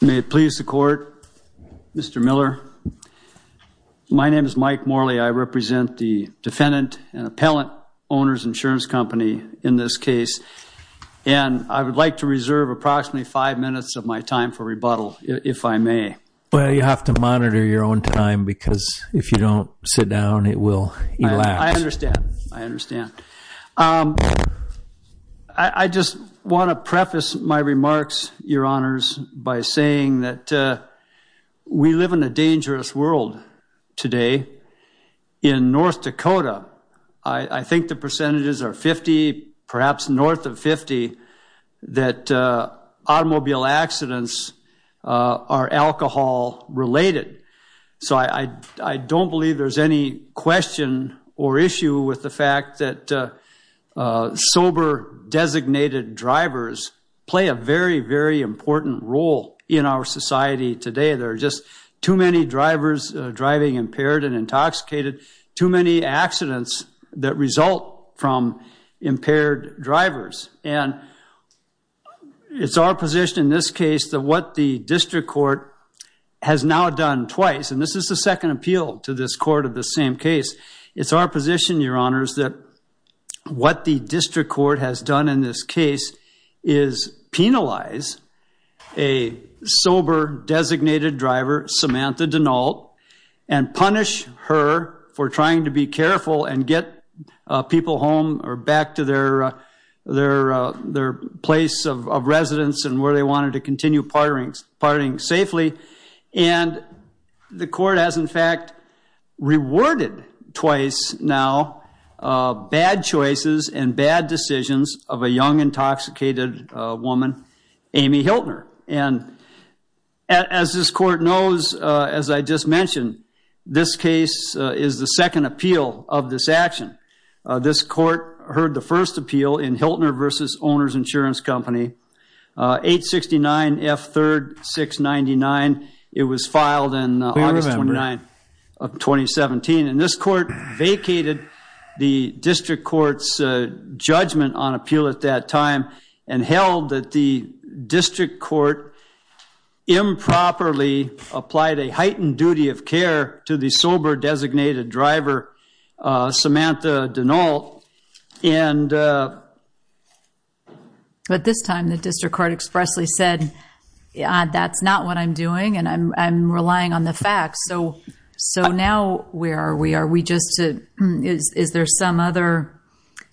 May it please the court. Mr. Miller, my name is Mike Morley. I represent the defendant and appellant Owners Insurance Company in this case and I would like to reserve approximately five minutes of my time for rebuttal if I may. Well you have to monitor your own time because if you don't sit down it will elapse. I understand. I understand. I just want to preface my remarks, your honors, by saying that we live in a dangerous world today in North Dakota. I think the percentages are 50, perhaps north of 50, that automobile accidents are alcohol related. So I don't believe there's any question or issue with the fact that sober designated drivers play a very, very important role in our society today. There are just too many drivers driving impaired and intoxicated, too many accidents that result from impaired drivers and it's our position in this case that what the district court has done in this case is penalize a sober designated driver, Samantha Denault, and punish her for trying to be careful and get people home or back to their place of residence and where they wanted to continue partying safely. And the court has in fact, in this case, rewarded twice now bad choices and bad decisions of a young intoxicated woman, Amy Hiltner. And as this court knows, as I just mentioned, this case is the second appeal of this action. This court heard the first appeal in Hiltner versus Owner's Insurance Company, 869 F 3rd 699. It was filed in August 29 of 2017. And this court vacated the district court's judgment on appeal at that time and held that the district court improperly applied a heightened duty of care to the But this time the district court expressly said, yeah, that's not what I'm doing and I'm relying on the facts. So now where are we? Are we just, is there some other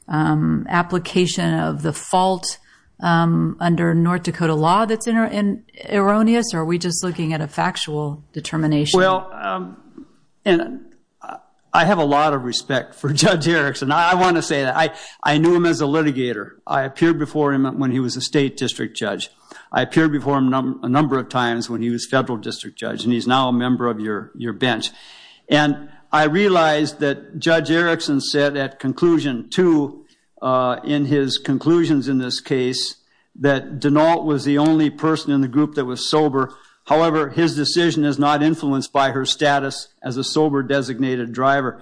application of the fault under North Dakota law that's in erroneous or are we just looking at a factual determination? Well, I have a lot of respect for Judge Erickson. I want to say that I I knew him as a litigator. I appeared before him when he was a state district judge. I appeared before him a number of times when he was federal district judge and he's now a member of your bench. And I realized that Judge Erickson said at conclusion two in his conclusions in this case that Denault was the only person in the group that was sober. However, his decision is not influenced by her status as a sober designated driver.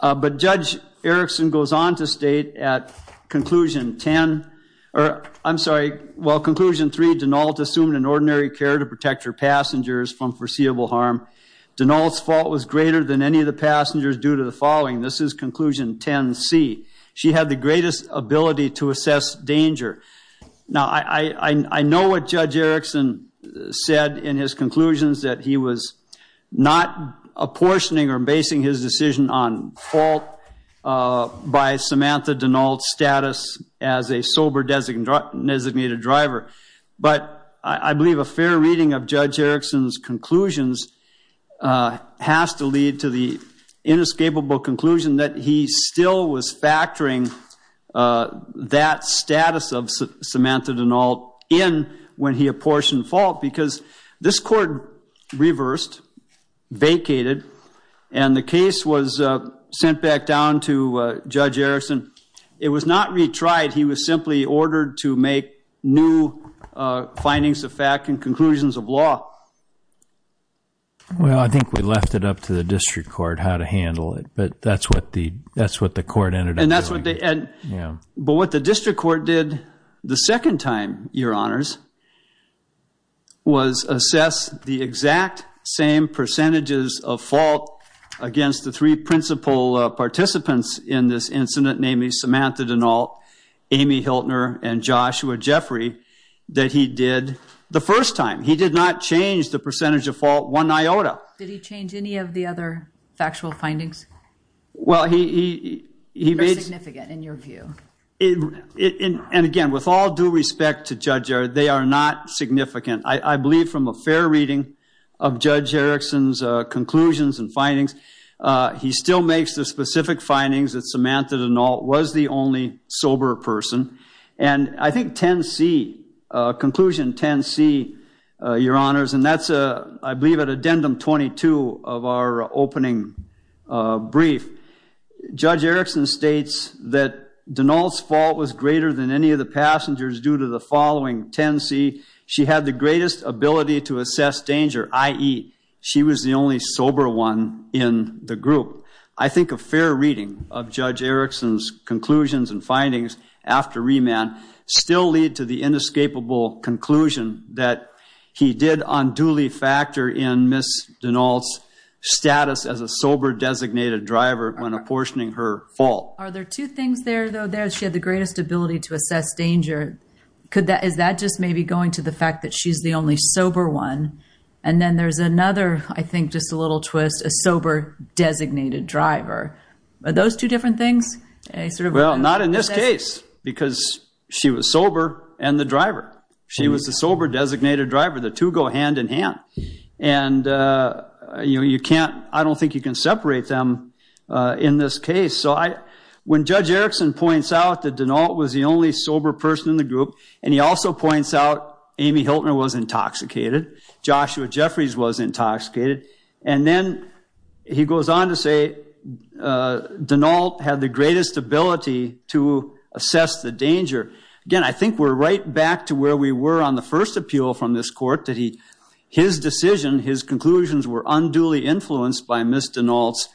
But Judge Erickson goes on to state at conclusion 10, or I'm sorry, well conclusion 3, Denault assumed an ordinary care to protect her passengers from foreseeable harm. Denault's fault was greater than any of the passengers due to the following. This is conclusion 10C. She had the greatest ability to assess danger. Now I know what Judge Erickson said in his conclusions that he was not apportioning or basing his decision on fault by Samantha Denault's status as a sober designated driver. But I believe a fair reading of Judge Erickson's conclusions has to lead to the inescapable conclusion that he still was factoring that status of Samantha Denault in when he apportioned fault because this court reversed, vacated, and the case was sent back down to Judge Erickson. It was not retried. He was simply ordered to make new findings of fact and conclusions of law. Well I think we left it up to the district court how to handle it but that's what the that's what the court ended. And that's what But what the district court did the second time, your honors, was assess the exact same percentages of fault against the three principal participants in this incident namely Samantha Denault, Amy Hiltner, and Joshua Jeffrey that he did the first time. He did not change the percentage of fault one iota. Did he your view? And again with all due respect to Judge Erickson, they are not significant. I believe from a fair reading of Judge Erickson's conclusions and findings he still makes the specific findings that Samantha Denault was the only sober person. And I think 10C, conclusion 10C, your honors, and that's a I believe at addendum 22 of our opening brief, Judge Erickson states that Denault's fault was greater than any of the passengers due to the following 10C. She had the greatest ability to assess danger, i.e. she was the only sober one in the group. I think a fair reading of Judge Erickson's conclusions and findings after remand still lead to the inescapable conclusion that he did on factor in Ms. Denault's status as a sober designated driver when apportioning her fault. Are there two things there though? She had the greatest ability to assess danger. Is that just maybe going to the fact that she's the only sober one? And then there's another, I think just a little twist, a sober designated driver. Are those two different things? Well not in this case because she was sober and the driver. She was the sober designated driver. The two go hand-in-hand and you can't, I don't think you can separate them in this case. So when Judge Erickson points out that Denault was the only sober person in the group and he also points out Amy Hiltner was intoxicated, Joshua Jeffries was intoxicated, and then he goes on to say Denault had the greatest ability to assess the danger. Again, I think we're right back to where we were on the first appeal from this court that he, his decision, his conclusions were unduly influenced by Ms. Denault's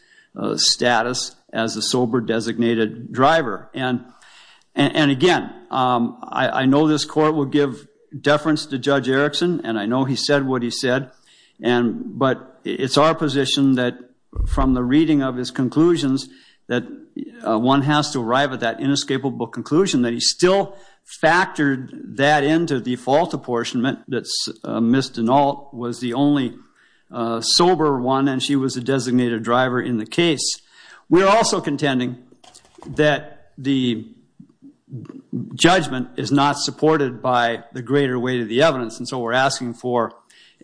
status as a sober designated driver. And again, I know this court will give deference to Judge Erickson and I know he said what he said and but it's our position that from the reading of his conclusions that one has to arrive at that inescapable conclusion that he still factored that into the fault apportionment that Ms. Denault was the only sober one and she was a designated driver in the case. We're also contending that the judgment is not supported by the greater weight of the evidence and so we're asking for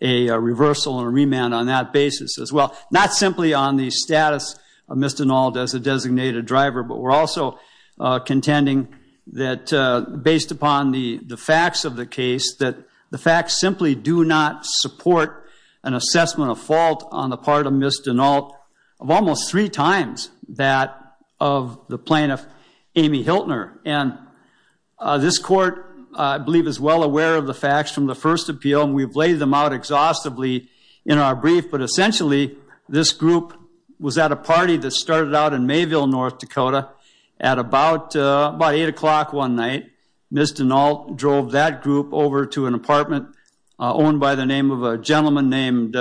a reversal and remand on that basis as well. Not simply on the status of Ms. Denault as a designated driver but we're also contending that based upon the the facts of the case that the facts simply do not support an assessment of fault on the part of Ms. Denault of almost three times that of the plaintiff Amy Hiltner and this court I believe is well aware of the facts from the first appeal and we've laid them out exhaustively in our brief but essentially this group was at a party that started out in Mayville, North Dakota at about about 8 o'clock one night. Ms. Denault drove that group over to an apartment owned by the name of a gentleman named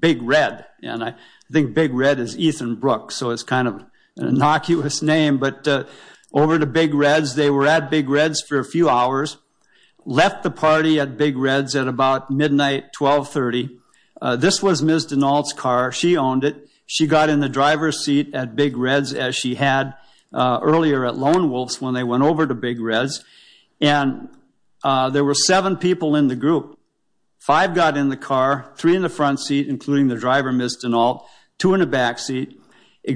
Big Red and I think Big Red is Ethan Brooks so it's kind of an innocuous name but over to Big Red's they were at Big Red's for a few hours left the party at Big Red's at about midnight 1230. This was Ms. Denault's car she owned it she got in the driver's seat at Big Red's as she had earlier at Big Red's and there were seven people in the group. Five got in the car, three in the front seat including the driver Ms. Denault, two in the backseat.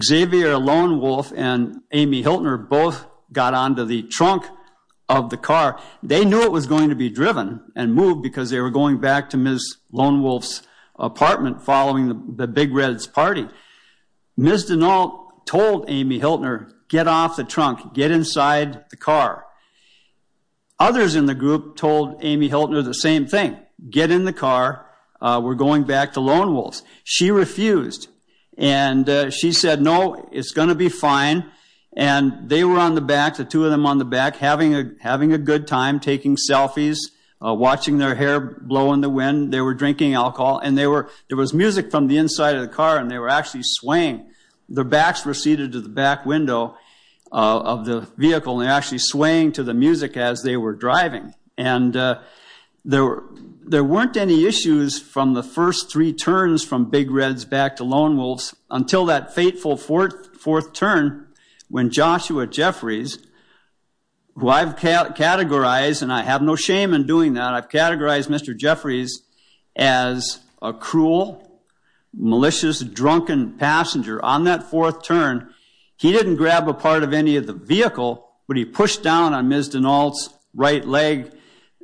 Xavier Lonewolf and Amy Hiltner both got onto the trunk of the car. They knew it was going to be driven and moved because they were going back to Ms. Lonewolf's apartment following the Big Red's party. Ms. Denault told Amy Hiltner get off the car. Others in the group told Amy Hiltner the same thing get in the car we're going back to Lonewolf's. She refused and she said no it's going to be fine and they were on the back the two of them on the back having a having a good time taking selfies watching their hair blow in the wind they were drinking alcohol and they were there was music from the inside of the car and they were actually swaying. Their backs were seated to the back window of the vehicle they were actually swaying to the music as they were driving and there weren't any issues from the first three turns from Big Red's back to Lonewolf's until that fateful fourth turn when Joshua Jeffries who I've categorized and I have no shame in doing that I've categorized Mr. Jeffries as a cruel malicious drunken passenger on that fourth turn he didn't grab a part of any of the vehicle but he pushed down on Ms. Denault's right leg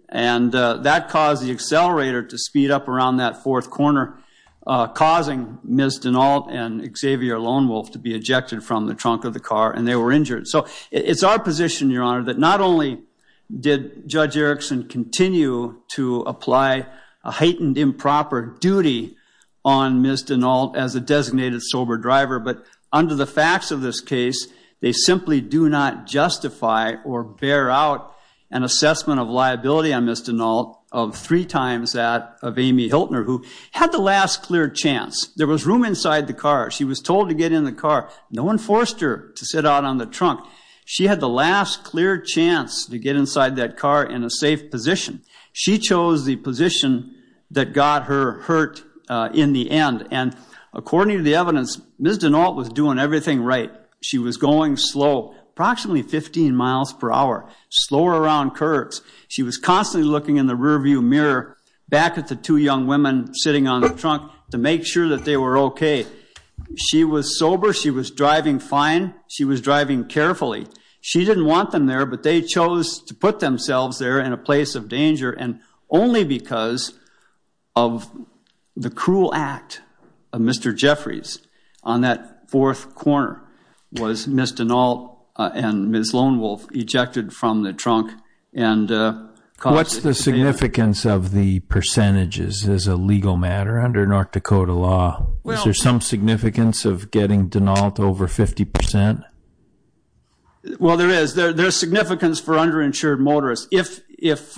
and that caused the accelerator to speed up around that fourth corner causing Ms. Denault and Xavier Lonewolf to be ejected from the trunk of the car and they were injured so it's our position your honor that not only did Judge Erickson continue to apply a heightened improper duty on Ms. Denault as a designated sober driver but under the or bear out an assessment of liability on Ms. Denault of three times that of Amy Hiltner who had the last clear chance there was room inside the car she was told to get in the car no one forced her to sit out on the trunk she had the last clear chance to get inside that car in a safe position she chose the position that got her hurt in the end and according to the evidence Ms. Denault was doing everything right she was going slow approximately 15 miles per hour slower around curbs she was constantly looking in the rearview mirror back at the two young women sitting on the trunk to make sure that they were okay she was sober she was driving fine she was driving carefully she didn't want them there but they chose to put themselves there in a place of danger and only because of the cruel act of Mr. Jeffries on that fourth corner was Ms. Denault and Ms. Lonewolf ejected from the trunk and what's the significance of the percentages as a legal matter under North Dakota law well there's some significance of getting denied over 50% well there is there there's significance for underinsured motorists if if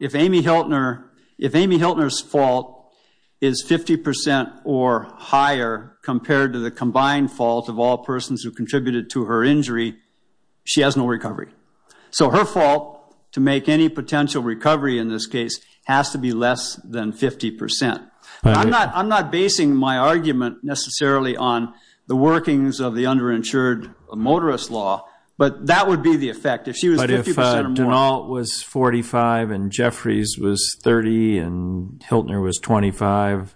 if Amy Hiltner if Amy Hiltner's fault is 50% or higher compared to the combined fault of all persons who contributed to her injury she has no recovery so her fault to make any potential recovery in this case has to be less than 50% I'm not I'm not basing my argument necessarily on the workings of the underinsured motorist law but that would be the fact if she was all it was 45 and Jeffries was 30 and Hiltner was 25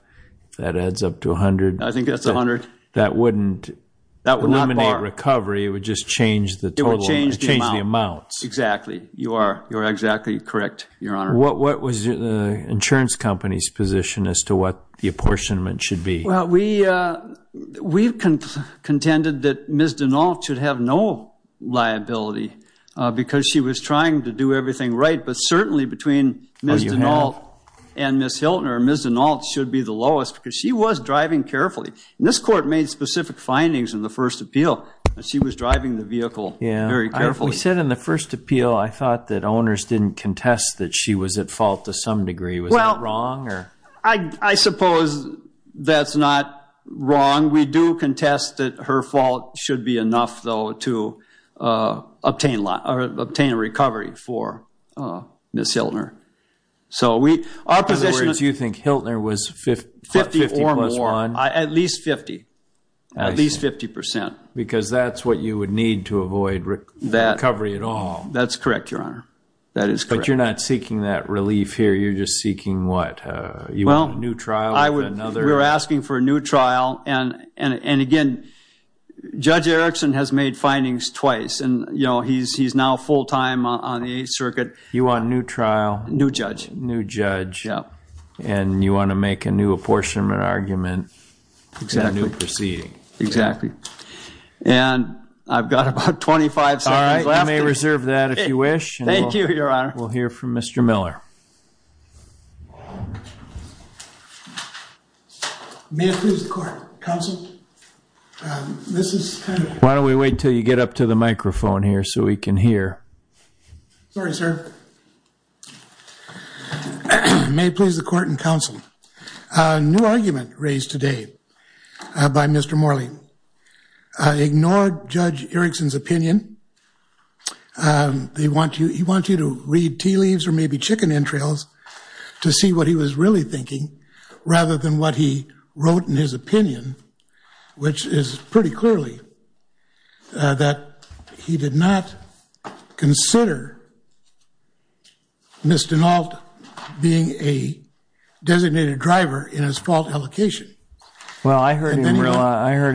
that adds up to 100 I think that's 100 that wouldn't that would eliminate recovery it would just change the total change the amounts exactly you are you're exactly correct your honor what what was the insurance company's position as to what the apportionment should be well we we've contended that Ms. Denault should have no liability because she was trying to do everything right but certainly between Ms. Denault and Ms. Hiltner Ms. Denault should be the lowest because she was driving carefully this court made specific findings in the first appeal she was driving the vehicle yeah very carefully said in the first appeal I thought that owners didn't contest that she was at fault to some degree well wrong or I suppose that's not wrong we do contest that her fault should be enough though to obtain a lot or obtain a recovery for Ms. Hiltner so we are position is you think Hiltner was 50 or more at least 50 at least 50 percent because that's what you would need to avoid that recovery at all that's correct your honor that is but you're not seeking that relief here you're just seeking what you well new trial I would we're asking for a new trial and and again judge Erickson has made findings twice and you know he's he's now full-time on the Eighth Circuit you want a new trial new judge new judge yeah and you want to make a new apportionment argument exactly proceeding exactly and I've got about 25 sorry I may reserve that if you wish thank you your honor we'll hear from mr. Miller why don't we wait till you get up to the microphone here so we can hear may please the court and counsel a new argument raised today by mr. Morley I ignored judge Erickson's opinion they want you he wants you to read tea leaves or maybe chicken entrails to see what he was really thinking rather than what he wrote in his opinion which is pretty clearly that he did not consider Mr. Nault being a designated driver in his fault allocation well I heard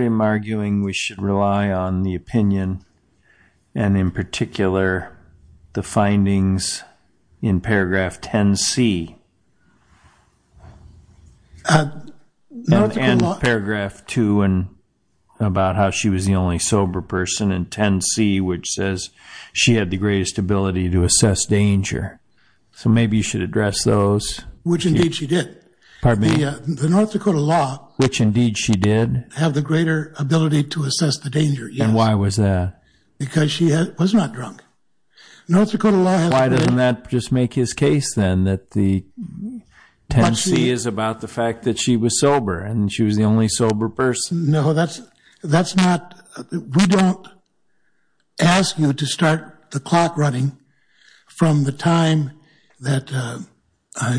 him arguing we should rely on the opinion and in particular the findings in paragraph 10 C and paragraph 2 and about how she was the only sober person in 10 C which says she had the greatest ability to assess danger so maybe you should address those which indeed she did pardon me yeah the North Dakota law which indeed she did have the greater ability to assess the danger yeah why was that because she was not drunk North Dakota law why didn't that just make his case then that the 10 C is about the fact that she was sober and she was the only sober person no that's that's not we don't ask you to start the clock running from the time that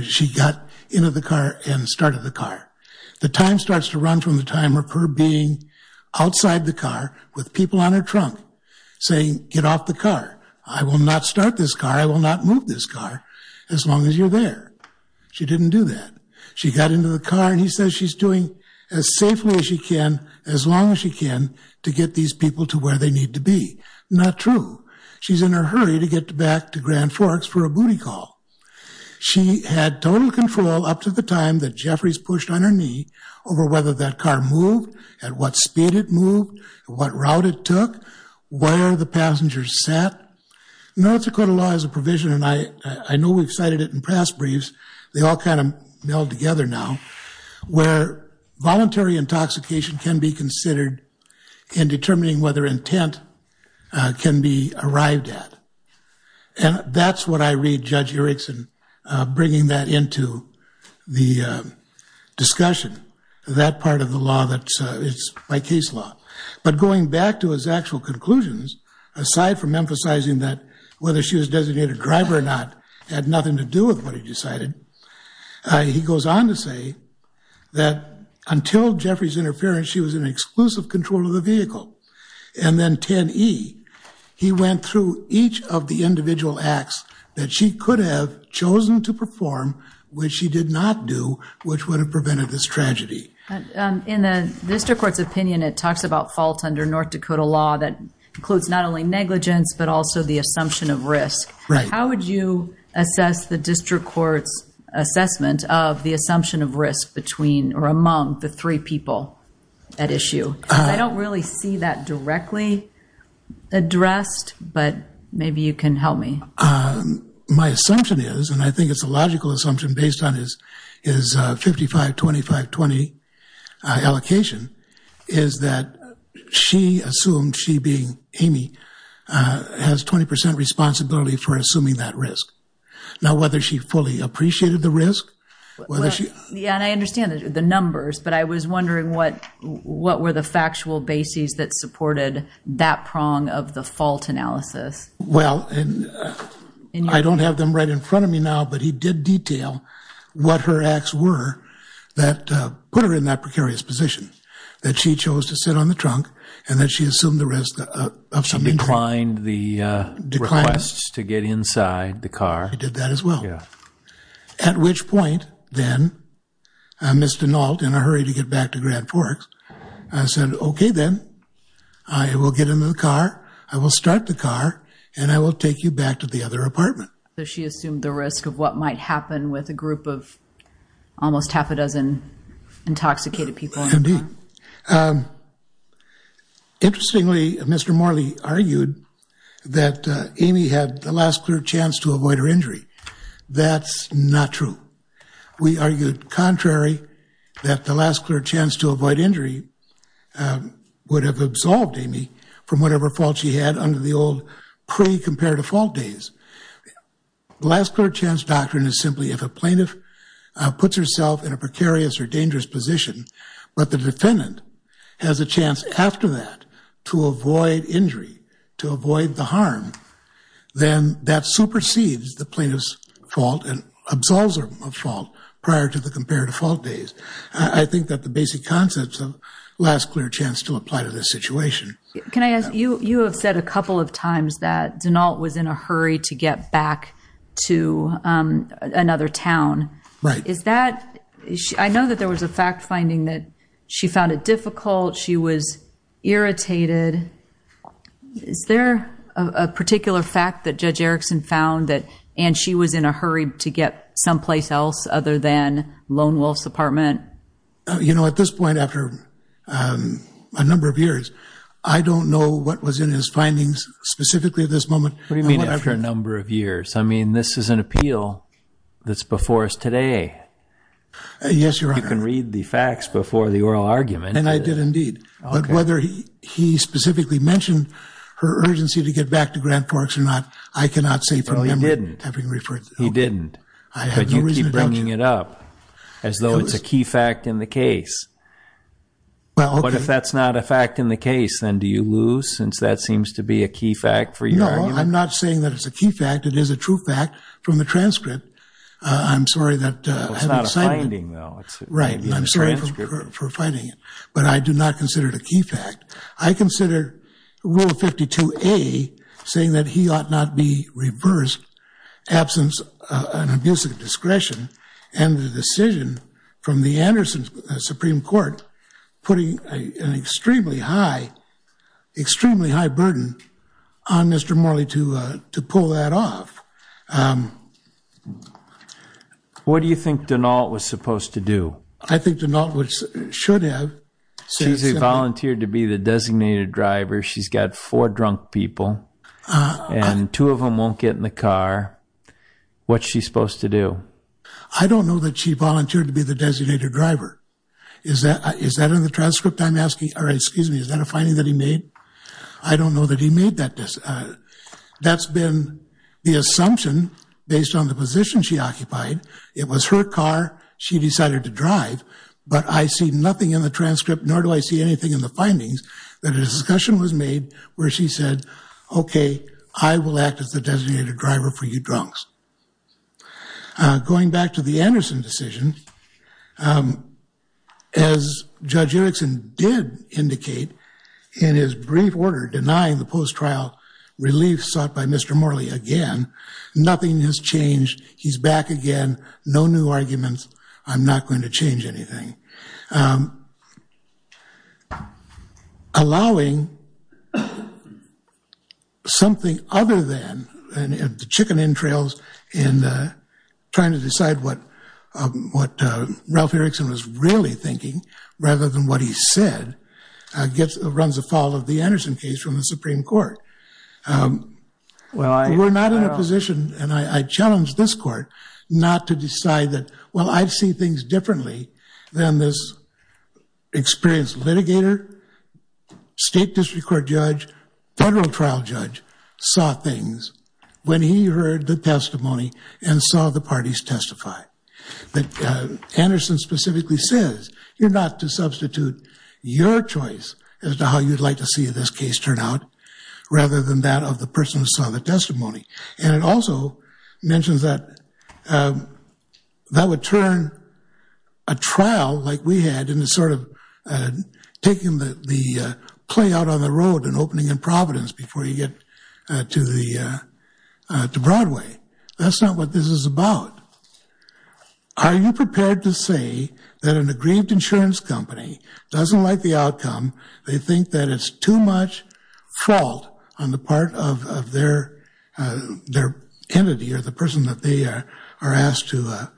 she got into the car and started the car the time starts to run from the time of her being outside the car with people on her trunk saying get off the car I will not start this car I will not move this car as long as you're there she didn't do that she got into the car and he says she's doing as safely as she can as long as she can to get these people to where they need to be not true she's in a hurry to get back to Grand Forks for a booty call she had total control up to the time that Jeffries pushed on her knee over whether that car moved at what speed it moved what route it took where the passengers sat North Dakota law as a provision and I I know we've cited it in past briefs they all kind of meld together now where voluntary intoxication can be considered in determining whether intent can be arrived at and that's what I read judge Erickson bringing that into the discussion that part of the law that it's my case law but going back to his actual conclusions aside from emphasizing that whether she was designated driver or not had nothing to do with what he decided he goes on to say that until Jeffries interference she was in exclusive control of the vehicle and then 10e he went through each of the individual acts that she could have chosen to perform which he did not do which would have prevented this tragedy in the district court's opinion it talks about fault under North Dakota law that includes not only negligence but also the assumption of risk right how would you assess the district courts assessment of the assumption of risk between or among the three people at issue I don't really see that directly addressed but maybe you can help me my assumption is and I think it's a logical assumption based on his is 55 25 20 allocation is that she assumed she being Amy has 20% responsibility for assuming that risk now whether she fully appreciated the risk yeah and I understand the numbers but I was that prong of the fault analysis well and I don't have them right in front of me now but he did detail what her acts were that put her in that precarious position that she chose to sit on the trunk and that she assumed the rest of some inclined the declines to get inside the car he did that as well yeah at which point then I'm mr. Nault in a hurry to get back to Grand Forks I said okay then I will get into the car I will start the car and I will take you back to the other apartment she assumed the risk of what might happen with a group of almost half a dozen intoxicated people indeed interestingly mr. Morley argued that Amy had the last clear chance to avoid her injury that's not true we argued contrary that the last clear chance to avoid injury would have absolved Amy from whatever fault she had under the old pre-comparative fault days the last clear chance doctrine is simply if a plaintiff puts herself in a precarious or dangerous position but the defendant has a chance after that to avoid injury to avoid the harm then that supersedes the plaintiff's fault and prior to the comparative fault days I think that the basic concepts of last clear chance to apply to this situation can I ask you you have said a couple of times that do not was in a hurry to get back to another town right is that I know that there was a fact-finding that she found it difficult she was irritated is there a particular fact that judge Erickson found that and she was in a place else other than Lone Wolf's apartment you know at this point after a number of years I don't know what was in his findings specifically this moment what do you mean after a number of years I mean this is an appeal that's before us today yes you're I can read the facts before the oral argument and I did indeed but whether he he specifically mentioned her urgency to get back to it up as though it's a key fact in the case well what if that's not a fact in the case then do you lose since that seems to be a key fact for you I'm not saying that it's a key fact it is a true fact from the transcript I'm sorry that it's not a finding though it's right I'm sorry for fighting it but I do not consider it a key fact I consider rule 52 a saying that he ought not be reversed absence an abusive discretion and the decision from the Anderson Supreme Court putting an extremely high extremely high burden on mr. Morley to to pull that off what do you think don't all it was supposed to do I think to not which should have says they volunteered to be the designated driver she's got four drunk people and two of them won't get in the car what she's supposed to do I don't know that she volunteered to be the designated driver is that is that in the transcript I'm asking all right excuse me is that a finding that he made I don't know that he made that this that's been the assumption based on the position she occupied it was her car she decided to drive but I see nothing in the transcript nor do I see anything in the findings that a discussion was made where she said okay I will act as the designated driver for you drunks going back to the Anderson decision as judge Erickson did indicate in his brief order denying the post trial relief sought by mr. Morley again nothing has changed he's back again no new arguments I'm not going to change anything allowing something other than and if the chicken entrails in trying to decide what what Ralph Erickson was really thinking rather than what he said I get the runs a fall of the Anderson case from the Supreme Court well I were not in a position and I challenged this court not to decide that well I've seen things differently than this experienced litigator state district court judge federal trial judge saw things when he heard the testimony and saw the parties testify that Anderson specifically says you're not to substitute your choice as to how you'd like to see this case turn out rather than that of the person who saw the testimony and it also mentions that that would turn a trial like we had in the sort of taking the play out on the road and opening in Providence before you get to the to Broadway that's not what this is about are you prepared to say that an aggrieved insurance company doesn't like the outcome they think that it's too much fault on the part of their their entity or the person that they are asked to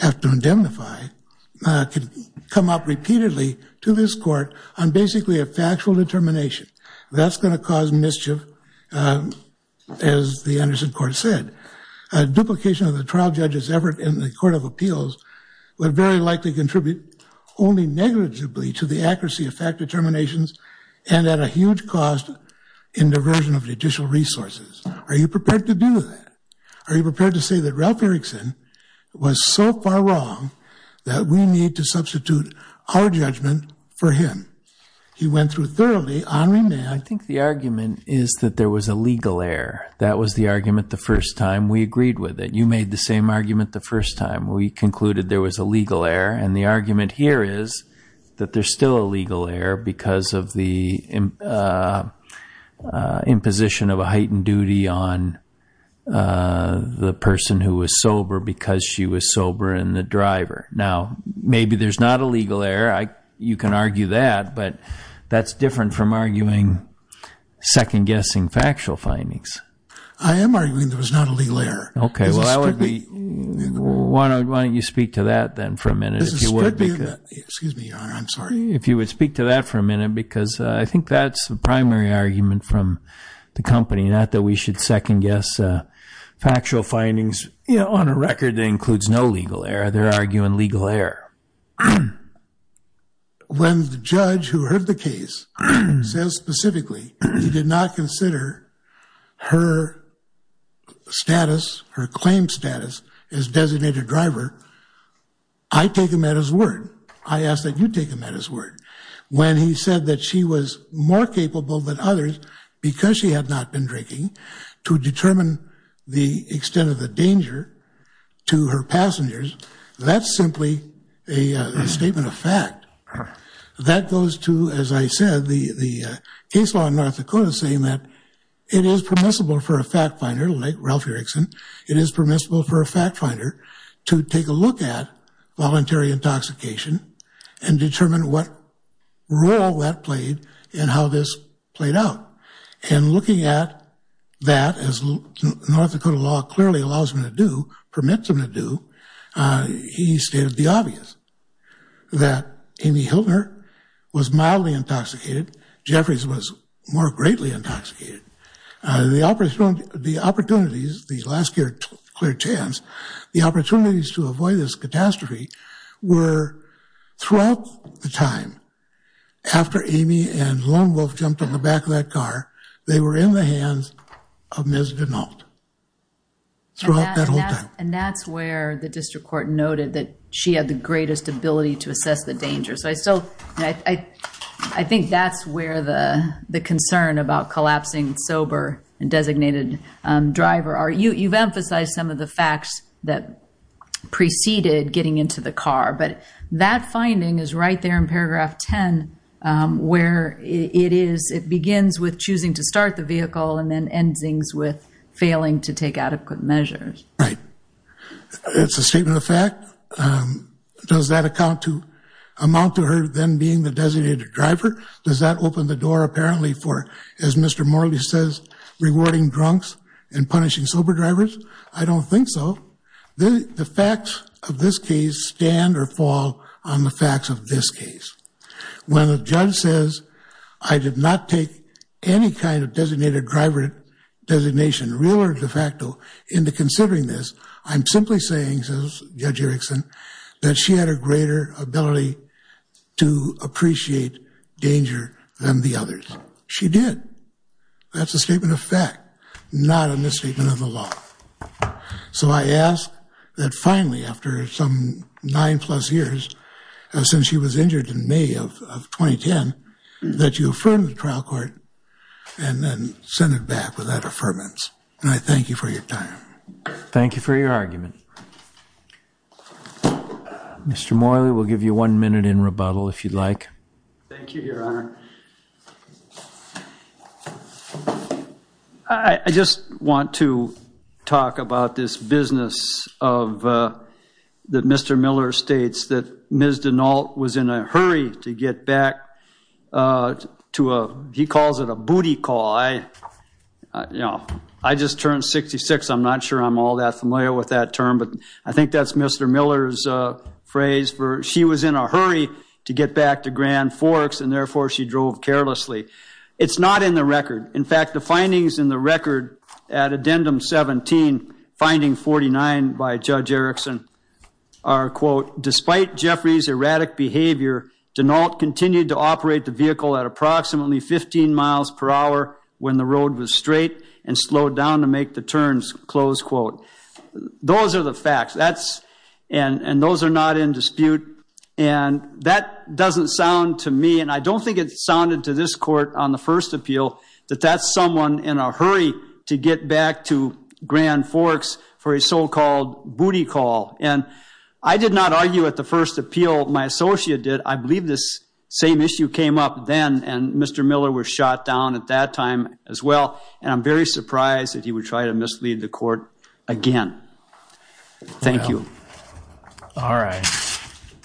have to indemnify could come up repeatedly to this court on basically a factual determination that's going to cause mischief as the Anderson court said a duplication of the trial judges ever in the Court of Appeals would very likely contribute only negligibly to the accuracy of fact determinations and at a huge cost in diversion of judicial resources are you prepared to do that are you prepared to say that Ralph Erickson was so far wrong that we need to substitute our judgment for him he went through thoroughly on remain I think the argument is that there was a legal error that was the argument the first time we agreed with it you made the same argument the first time we concluded there was a legal error and the argument here is that there's still a legal error because of the imposition of a heightened duty on the person who was sober because she was sober and the driver now maybe there's not a legal error I you can argue that but that's different from arguing second-guessing factual findings I am arguing there was not a legal error okay well I would be why don't you speak to that then for a minute if you would excuse me I'm sorry if you would speak to that for a minute because I think that's the primary argument from the company not that we should second-guess factual findings you know on a record that includes no legal error they're arguing legal error when the judge who heard the case says specifically he did not consider her status her claim status is designated driver I take him at his word I ask that you take him at his word when he said that she was more capable than others because she had not been drinking to determine the extent of the danger to her passengers that's simply a statement of fact that goes to as I said the the case law in North Dakota saying that it is permissible for a fact finder like Ralph Erickson it is permissible for a fact finder to take a look at voluntary intoxication and determine what role that played and how this played out and looking at that as North Dakota law clearly allows him to do permits him to do he stated the obvious that Amy Hiltner was mildly intoxicated Jeffries was more greatly intoxicated the opportunity the opportunities the last year clear chance the opportunities to Amy and one wolf jumped on the back of that car they were in the hands of misbehaved and that's where the district court noted that she had the greatest ability to assess the danger so I still I I think that's where the the concern about collapsing sober and designated driver are you you've emphasized some of the facts that preceded getting into the car but that finding is right there in where it is it begins with choosing to start the vehicle and then ends things with failing to take adequate measures right it's a statement of fact does that account to amount to her then being the designated driver does that open the door apparently for as mr. Morley says rewarding drunks and punishing sober drivers I don't think so the facts of this case stand or fall on the facts of this case when the judge says I did not take any kind of designated driver designation real or de facto into considering this I'm simply saying says judge Erickson that she had a greater ability to appreciate danger than the others she did that's a statement of fact not a misstatement of the law so I that finally after some nine plus years since she was injured in May of 2010 that you affirm the trial court and then send it back without affirmance and I thank you for your time thank you for your argument mr. Morley will give you one minute in rebuttal if you'd like I just want to talk about this business of that mr. Miller states that mrs. de Nault was in a hurry to get back to a he calls it a booty call I you know I just turned 66 I'm not sure I'm all that familiar with that term but I think that's mr. Miller's phrase for she was in a hurry to get back to Grand Forks and therefore she drove carelessly it's not in the record in fact the findings in the record at addendum 17 finding 49 by judge Erickson are quote despite Jeffrey's erratic behavior do not continue to operate the vehicle at approximately 15 miles per hour when the road was straight and slowed down to make the turns close quote those are the facts that's and and those are not in dispute and that doesn't sound to me and I don't think it sounded to this court on the first appeal that that's someone in a hurry to get back to Grand Forks for a so-called booty call and I did not argue at the first appeal my associate did I believe this same issue came up then and mr. Miller was shot down at that time as well and I'm very surprised that he would try to mislead the court again thank you all right